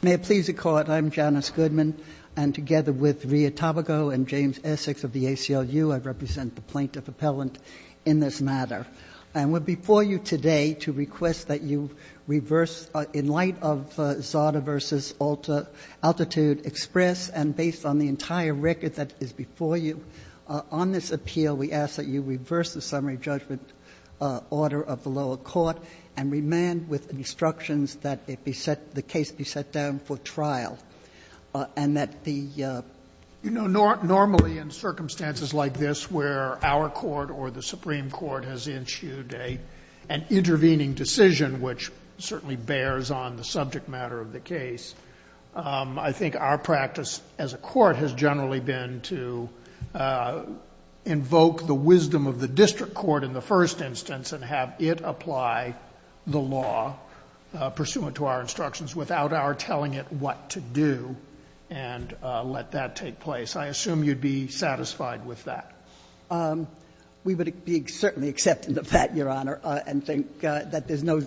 May it please the Court, I'm Janice Goodman, and together with Ria Tabago and James Essex of the ACLU, I represent the plaintiff appellant in this matter. And we're before you today to request that you reverse, in light of Zarda v. Altitude Express, and based on the entire record that is before you on this appeal, we ask that you reverse the summary judgment order of the lower court and remand with instructions that it be set, the case be set down for trial. And that the... You know, normally in circumstances like this where our court or the Supreme Court has issued an intervening decision which certainly bears on the subject matter of the wisdom of the district court in the first instance, and have it apply the law pursuant to our instructions without our telling it what to do, and let that take place. I assume you'd be satisfied with that. We would be certainly acceptant of that, Your Honor, and think that there's no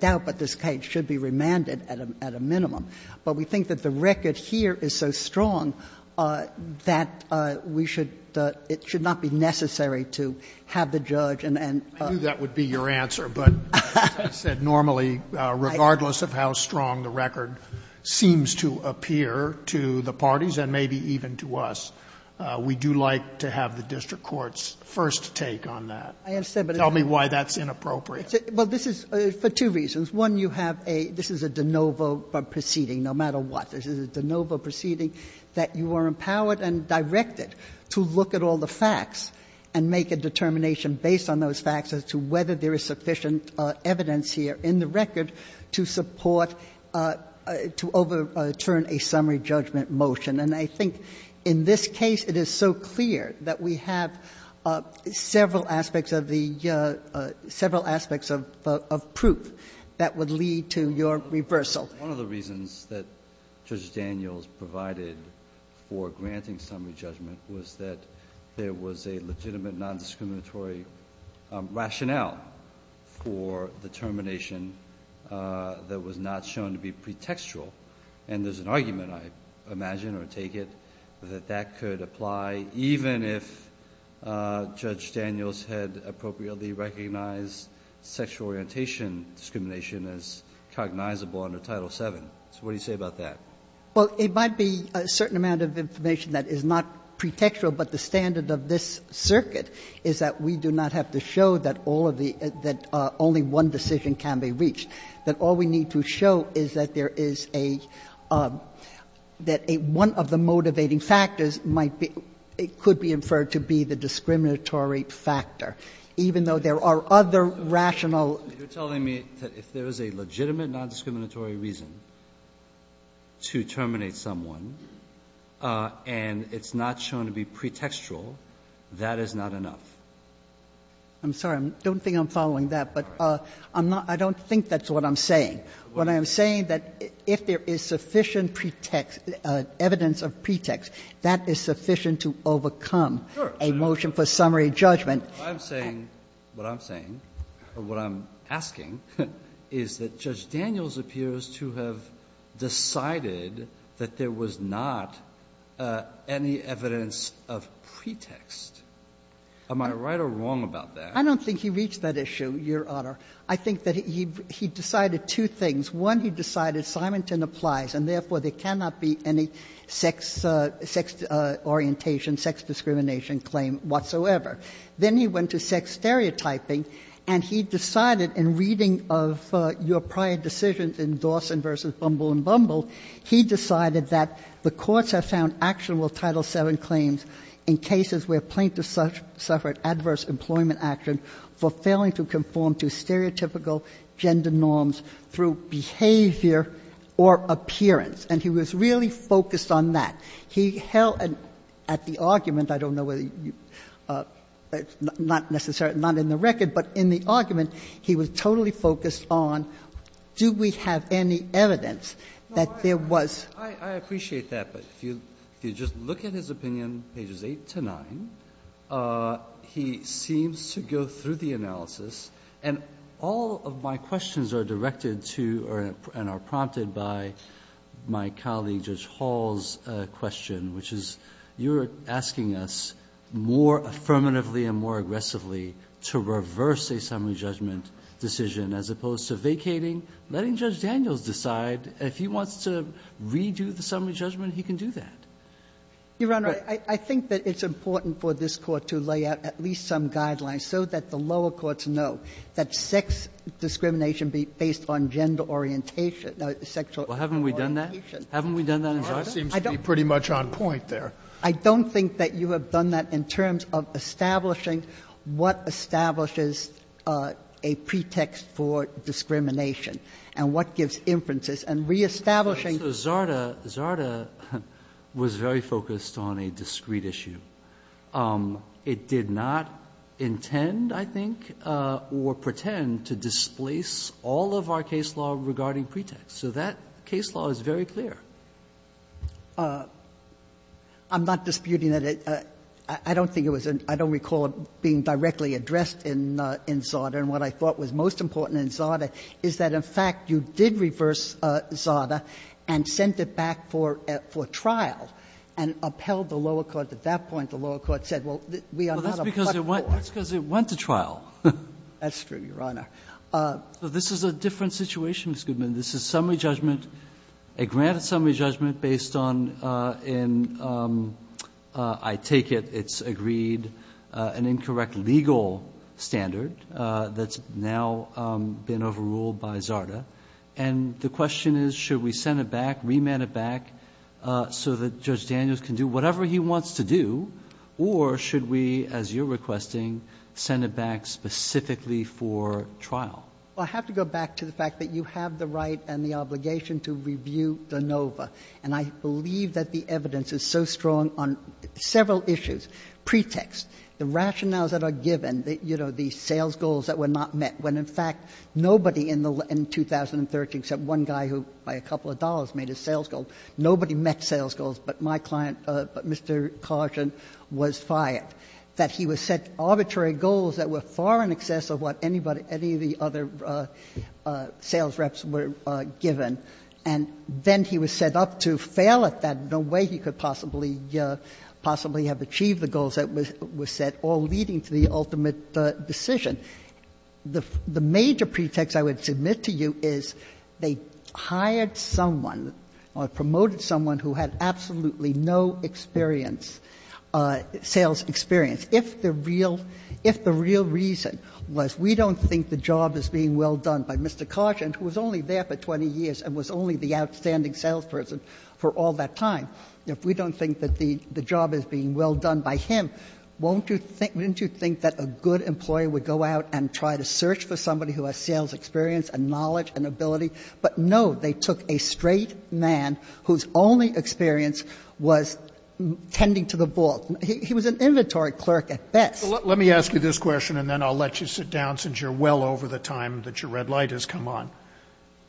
doubt that this case should be remanded at a minimum. But we think that the record here is so strong that we should – it should not be necessary to have the judge and... I knew that would be your answer, but as I said, normally, regardless of how strong the record seems to appear to the parties and maybe even to us, we do like to have the district court's first take on that. I understand, but... Tell me why that's inappropriate. Well, this is for two reasons. One, you have a – this is a de novo proceeding, no matter what. This is a de novo proceeding that you are empowered and directed to look at all the facts and make a determination based on those facts as to whether there is sufficient evidence here in the record to support – to overturn a summary judgment motion. And I think in this case, it is so clear that we have several aspects of the – several aspects of proof that would lead to your reversal. One of the reasons that Judge Daniels provided for granting summary judgment was that there was a legitimate nondiscriminatory rationale for the termination that was not shown to be pretextual, and there's an argument, I imagine or take it, that that could apply even if Judge Daniels had appropriately recognized sexual orientation discrimination as cognizable under Title VII. So what do you say about that? Well, it might be a certain amount of information that is not pretextual, but the standard of this circuit is that we do not have to show that all of the – that only one decision can be reached, that all we need to show is that there is a – that a – one of the motivating factors might be – it could be inferred to be the discriminatory factor, even though there are other rational – You're telling me that if there is a legitimate nondiscriminatory reason to terminate someone, and it's not shown to be pretextual, that is not enough? I'm sorry. I don't think I'm following that, but I'm not – I don't think that's what I'm saying. What I'm saying that if there is sufficient pretext – evidence of pretext, that is sufficient to overcome a motion for summary judgment. I'm saying – what I'm saying, or what I'm asking, is that Judge Daniels appears to have decided that there was not any evidence of pretext. Am I right or wrong about that? I don't think he reached that issue, Your Honor. I think that he decided two things. One, he decided Simonton applies, and therefore, there cannot be any sex orientation, sex discrimination claim whatsoever. Then he went to sex stereotyping, and he decided in reading of your prior decisions in Dawson v. Bumble and Bumble, he decided that the courts have found actionable Title VII claims in cases where plaintiffs suffered adverse employment action for failing to conform to stereotypical gender norms through behavior or appearance, and he was really focused on that. He held at the argument, I don't know whether you – not necessarily, not in the record, but in the argument, he was totally focused on do we have any evidence that there was. Breyer, I appreciate that, but if you just look at his opinion, pages 8 to 9, he seems to go through the analysis, and all of my questions are directed to and are prompted by my colleague Judge Hall's question, which is you're asking us more affirmatively and more aggressively to reverse a summary judgment decision as opposed to vacating, letting Judge Daniels decide. If he wants to redo the summary judgment, he can do that. You're right. I think that it's important for this Court to lay out at least some guidelines so that the lower courts know that sex discrimination based on gender orientation or sexual orientation. Well, haven't we done that? Haven't we done that in Georgia? I don't think that you have done that in terms of establishing gender orientation and establishing what establishes a pretext for discrimination and what gives inferences and reestablishing. So Zarda – Zarda was very focused on a discrete issue. It did not intend, I think, or pretend to displace all of our case law regarding pretexts. So that case law is very clear. I'm not disputing that it – I don't think it was – I don't recall it being directly addressed in Zarda. And what I thought was most important in Zarda is that, in fact, you did reverse Zarda and sent it back for trial and upheld the lower court. At that point, the lower court said, well, we are not a platform. Well, that's because it went to trial. That's true, Your Honor. So this is a different situation, Ms. Goodman. This is summary judgment, a granted summary judgment based on an – I take it it's agreed an incorrect legal standard that's now been overruled by Zarda. And the question is, should we send it back, remand it back so that Judge Daniels can do whatever he wants to do, or should we, as you're requesting, send it back specifically for trial? I have to go back to the fact that you have the right and the obligation to review De Novo, and I believe that the evidence is so strong on several issues. Pretext, the rationales that are given, you know, the sales goals that were not met, when, in fact, nobody in 2013, except one guy who, by a couple of dollars, made a sales goal, nobody met sales goals but my client, Mr. Carson, was fired, that he was set up to fail at that, no way he could possibly have achieved the goals that were set, all leading to the ultimate decision. The major pretext I would submit to you is they hired someone or promoted someone who had absolutely no experience, sales experience, if the real reason was we don't think the job is being well done by Mr. Carson, who was only there for 20 years and was only the outstanding salesperson for all that time, if we don't think that the job is being well done by him, won't you think that a good employee would go out and try to search for somebody who has sales experience and knowledge and ability? But no, they took a straight man whose only experience was tending to the vault. He was an inventory clerk at best. Let me ask you this question and then I'll let you sit down, since you're well over the time that your red light has come on.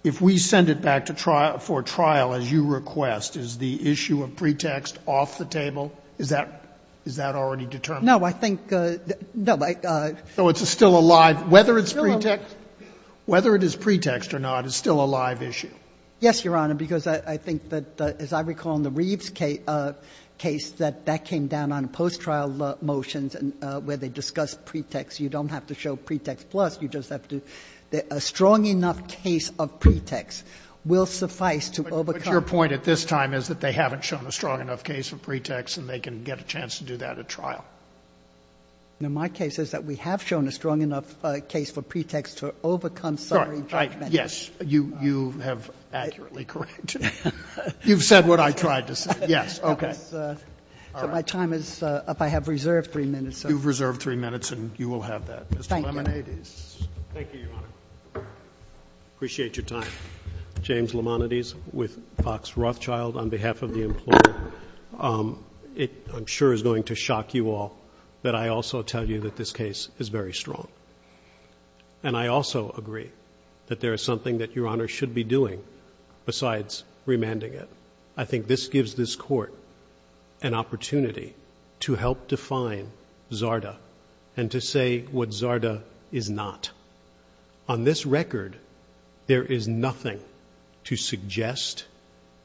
If we send it back to trial, for trial, as you request, is the issue of pretext off the table? Is that already determined? No, I think, no, I. So it's still a live, whether it's pretext, whether it is pretext or not, it's still a live issue? Yes, Your Honor, because I think that, as I recall in the Reeves case, that that came down on post-trial motions where they discussed pretext. You don't have to show pretext plus, you just have to do a strong enough case of pretext will suffice to overcome. But your point at this time is that they haven't shown a strong enough case of pretext and they can get a chance to do that at trial. No, my case is that we have shown a strong enough case for pretext to overcome summary judgment. Yes, you have accurately corrected. You've said what I tried to say. Yes, okay. So my time is up, I have reserved three minutes. You've reserved three minutes and you will have that, Mr. Limonides. Thank you, Your Honor. Appreciate your time. James Limonides with Fox Rothschild on behalf of the employer. It, I'm sure, is going to shock you all that I also tell you that this case is very strong. And I also agree that there is something that Your Honor should be doing besides remanding it. I think this gives this court an opportunity to help define Zarda and to say what Zarda is not. On this record, there is nothing to suggest,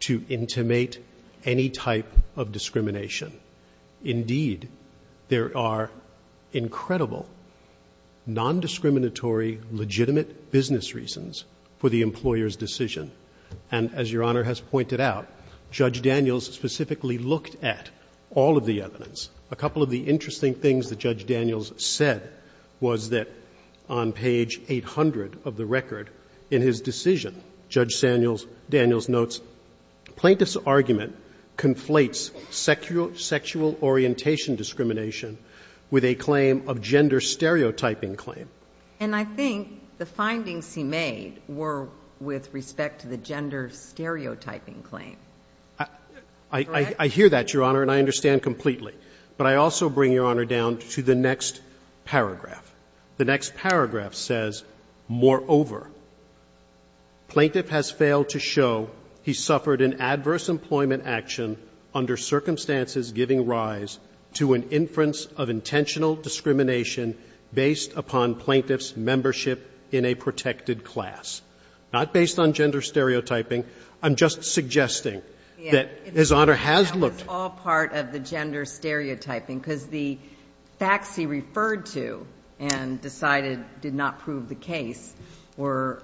to intimate any type of discrimination. Indeed, there are incredible, non-discriminatory, legitimate business reasons for the employer's decision. And as Your Honor has pointed out, Judge Daniels specifically looked at all of the evidence. A couple of the interesting things that Judge Daniels said was that on page 800 of the record in his decision, Judge Daniels notes, plaintiff's argument conflates sexual orientation discrimination with a claim of gender stereotyping claim. And I think the findings he made were with respect to the gender stereotyping claim. I hear that, Your Honor, and I understand completely. But I also bring Your Honor down to the next paragraph. The next paragraph says, moreover, plaintiff has failed to show he suffered an adverse employment action under circumstances giving rise to an inference of intentional discrimination based upon plaintiff's membership in a protected class. Not based on gender stereotyping. I'm just suggesting that His Honor has looked at the facts he referred to and decided did not prove the case were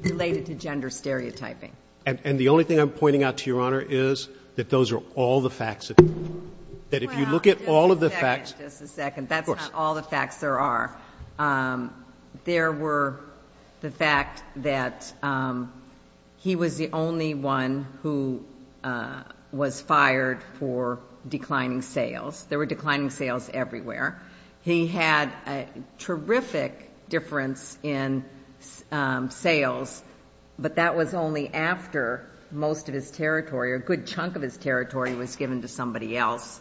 related to gender stereotyping. And the only thing I'm pointing out to Your Honor is that those are all the facts that if you look at all of the facts. Just a second. Of course. That's not all the facts there are. There were the fact that he was the only one who was fired for declining sales. There were declining sales everywhere. He had a terrific difference in sales, but that was only after most of his territory or a good chunk of his territory was given to somebody else.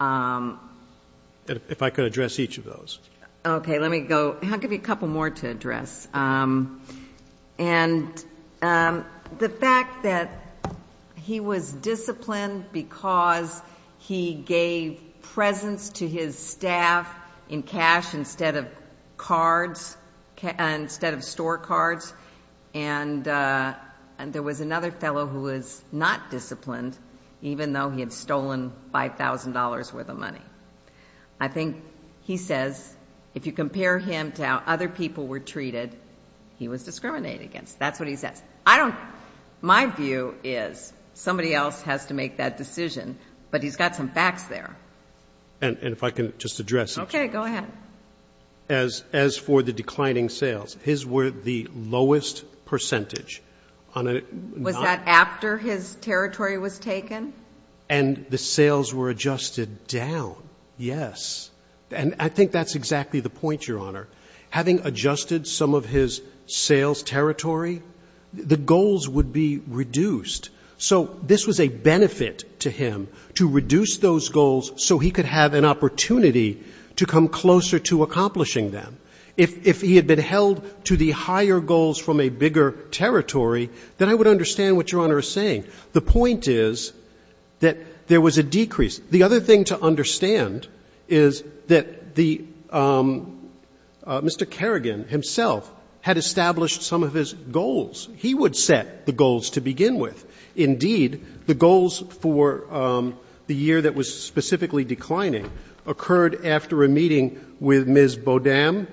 If I could address each of those. Okay. Let me go. I'll give you a couple more to address. And the fact that he was disciplined because he gave presents to his staff in cash instead of cards, instead of store cards, and there was another fellow who was not disciplined even though he had stolen $5,000 worth of money. I think he says if you compare him to how other people were treated, he was discriminated against. That's what he says. My view is somebody else has to make that decision, but he's got some facts there. And if I can just address each of those. Okay. Go ahead. As for the declining sales, his were the lowest percentage on a non- Was that after his territory was taken? And the sales were adjusted down, yes. And I think that's exactly the point, Your Honor. Having adjusted some of his sales territory, the goals would be reduced. So this was a benefit to him to reduce those goals so he could have an opportunity to come closer to accomplishing them. If he had been held to the higher goals from a bigger territory, then I would understand what Your Honor is saying. The point is that there was a decrease. The other thing to understand is that the Mr. Kerrigan himself had established some of his goals. He would set the goals to begin with. Indeed, the goals for the year that was specifically declining occurred after a meeting with Ms. Bodam,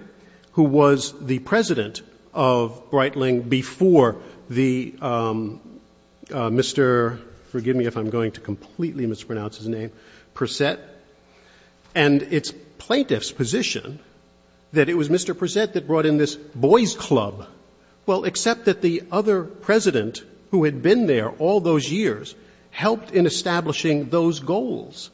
who was the president of Breitling before the Mr. — forgive me if I'm going to completely mispronounce his name — Percet, and it's plaintiff's position that it was Mr. Percet that brought in this boys' club. Well, except that the other president who had been there all those years helped in establishing those goals.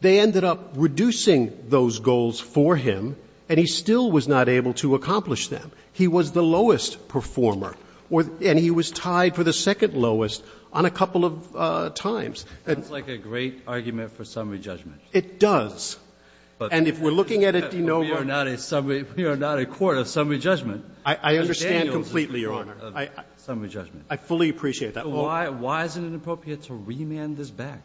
They ended up reducing those goals for him, and he still was not able to accomplish them. He was the lowest performer, and he was tied for the second lowest on a couple of times. That's like a great argument for summary judgment. It does. And if we're looking at it, do you know where— We are not a court of summary judgment. I understand completely, Your Honor. I fully appreciate that. Why isn't it appropriate to remand this back?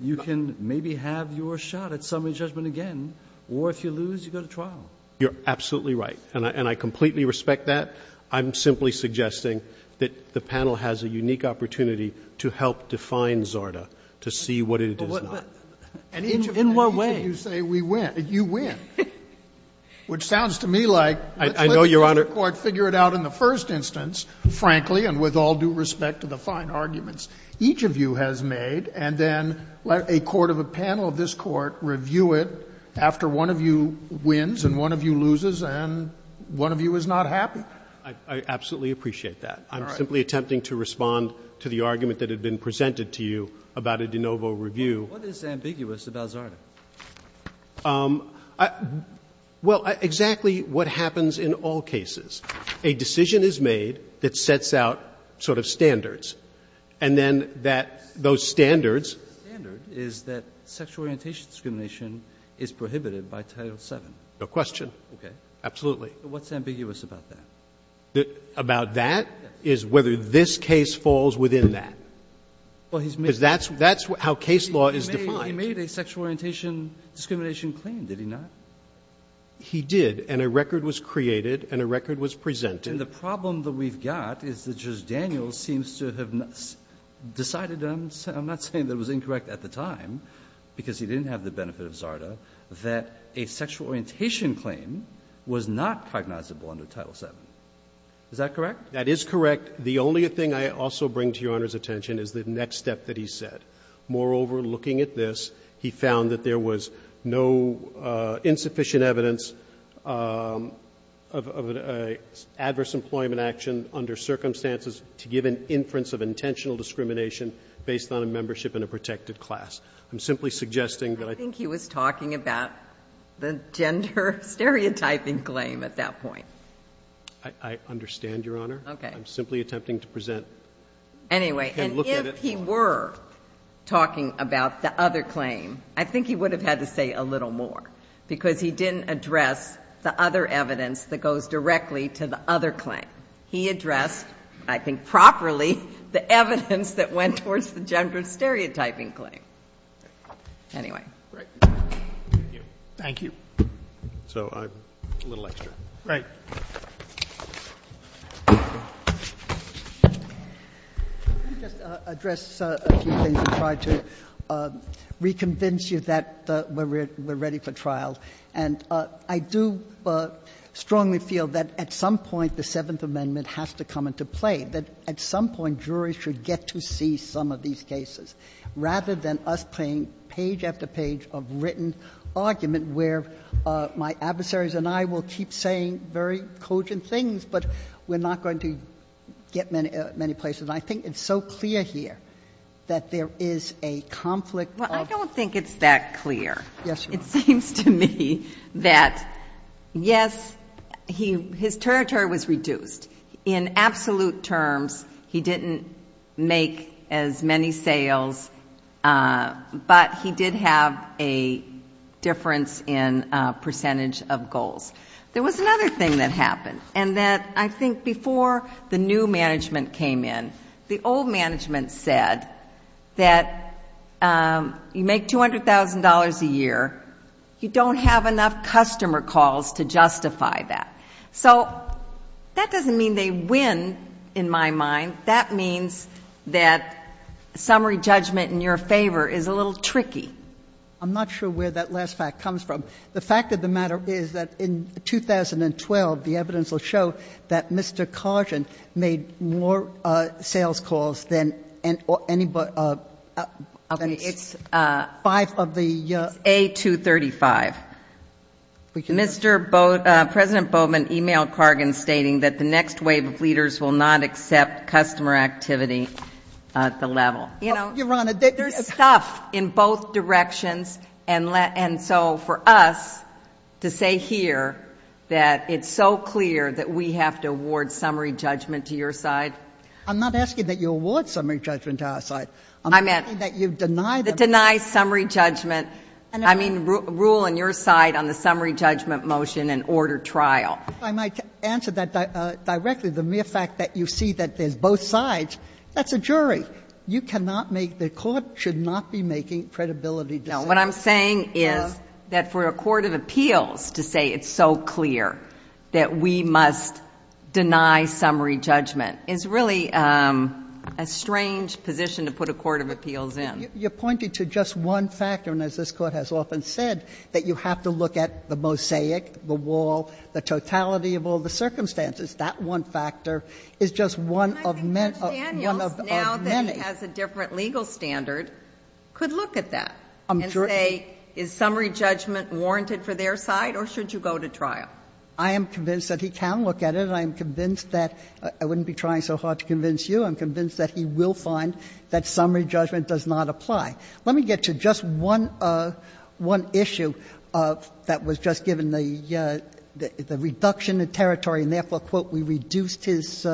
You can maybe have your shot at summary judgment again, or if you lose, you go to trial. You're absolutely right, and I completely respect that. I'm simply suggesting that the panel has a unique opportunity to help define ZARTA to see what it is not. In what way? And each of you say we win, you win, which sounds to me like— I know, Your Honor— Let's let the court figure it out in the first instance, frankly, and with all due respect to the fine arguments each of you has made, and then let a court of a panel of this Court review it after one of you wins and one of you loses and one of you is not happy. I absolutely appreciate that. I'm simply attempting to respond to the argument that had been presented to you about a de novo review. What is ambiguous about ZARTA? Well, exactly what happens in all cases. A decision is made that sets out sort of standards, and then that those standards— The standard is that sexual orientation discrimination is prohibited by Title VII. No question. Okay. Absolutely. What's ambiguous about that? About that is whether this case falls within that. Because that's how case law is defined. But he made a sexual orientation discrimination claim, did he not? He did, and a record was created and a record was presented. And the problem that we've got is that Judge Daniels seems to have decided—I'm not saying that it was incorrect at the time, because he didn't have the benefit of ZARTA—that a sexual orientation claim was not cognizable under Title VII. Is that correct? That is correct. The only thing I also bring to Your Honor's attention is the next step that he said. Moreover, looking at this, he found that there was no insufficient evidence of an adverse employment action under circumstances to give an inference of intentional discrimination based on a membership in a protected class. I'm simply suggesting that I think— I think he was talking about the gender stereotyping claim at that point. I understand, Your Honor. Okay. I'm simply attempting to present— Anyway. And if he were talking about the other claim, I think he would have had to say a little more, because he didn't address the other evidence that goes directly to the other claim. He addressed, I think properly, the evidence that went towards the gender stereotyping claim. Anyway. Thank you. So a little extra. Right. Let me just address a few things and try to reconvince you that we're ready for trial. And I do strongly feel that at some point the Seventh Amendment has to come into play, that at some point juries should get to see some of these cases rather than us playing page after page of written argument where my adversaries and I will keep saying very cogent things, but we're not going to get many places. And I think it's so clear here that there is a conflict of— Well, I don't think it's that clear. Yes, Your Honor. It seems to me that, yes, his territory was reduced. In absolute terms, he didn't make as many sales, but he did have a difference in percentage of goals. There was another thing that happened. And that I think before the new management came in, the old management said that you make $200,000 a year, you don't have enough customer calls to justify that. So that doesn't mean they win, in my mind. That means that summary judgment in your favor is a little tricky. I'm not sure where that last fact comes from. The fact of the matter is that in 2012, the evidence will show that Mr. Cargan made more sales calls than anybody— Okay, it's— —five of the— It's A-235. Mr. Boat—President Boatman emailed Cargan stating that the next wave of leaders will not accept customer activity at the level. You know— Your Honor, they— —stuff in both directions. And so for us to say here that it's so clear that we have to award summary judgment to your side— I'm not asking that you award summary judgment to our side. I'm asking that you deny them— Deny summary judgment. I mean rule on your side on the summary judgment motion and order trial. I might answer that directly. The mere fact that you see that there's both sides, that's a jury. You cannot make — the Court should not be making credibility decisions. No. What I'm saying is that for a court of appeals to say it's so clear that we must deny summary judgment is really a strange position to put a court of appeals in. You're pointing to just one factor. And as this Court has often said, that you have to look at the mosaic, the wall, the totality of all the circumstances. That one factor is just one of— But Judge Daniels, now that he has a different legal standard, could look at that and say is summary judgment warranted for their side or should you go to trial? I am convinced that he can look at it. I am convinced that — I wouldn't be trying so hard to convince you. I'm convinced that he will find that summary judgment does not apply. Let me get to just one — one issue that was just given the — the reduction in territory, and therefore, quote, we reduced his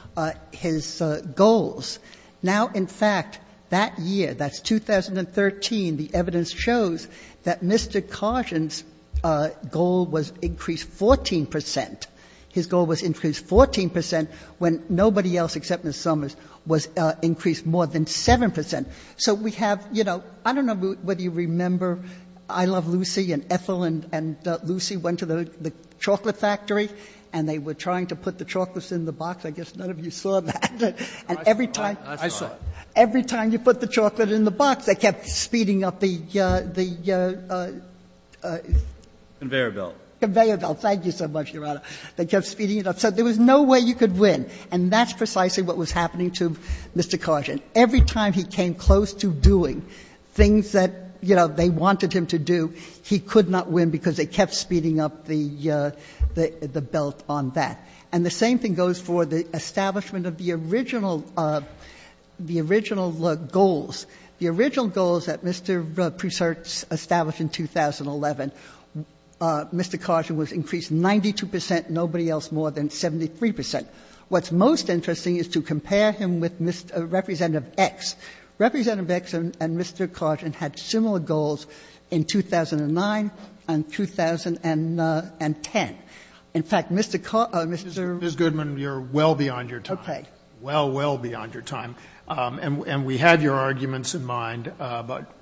— his goals. Now, in fact, that year, that's 2013, the evidence shows that Mr. Carson's goal was increased 14 percent. His goal was increased 14 percent when nobody else except Ms. Summers was increased more than 7 percent. So we have — you know, I don't know whether you remember I Love Lucy and Ethel and Lucy went to the chocolate factory and they were trying to put the chocolates in the box. I guess none of you saw that. And every time— I saw it. I saw it. Every time you put the chocolate in the box, they kept speeding up the — the— Conveyor belt. Conveyor belt. Thank you so much, Your Honor. They kept speeding it up. So there was no way you could win. And that's precisely what was happening to Mr. Carson. Every time he came close to doing things that, you know, they wanted him to do, he could not win because they kept speeding up the — the belt on that. And the same thing goes for the establishment of the original — the original goals. The original goals that Mr. Prusert established in 2011, Mr. Carson was increased 92 percent, nobody else more than 73 percent. What's most interesting is to compare him with Mr. — Representative X. Representative X and Mr. Carson had similar goals in 2009 and 2010. In fact, Mr. Carson — Mr. — Mr. Goodman, you're well beyond your time. Okay. Well, well beyond your time. And we had your arguments in mind, but—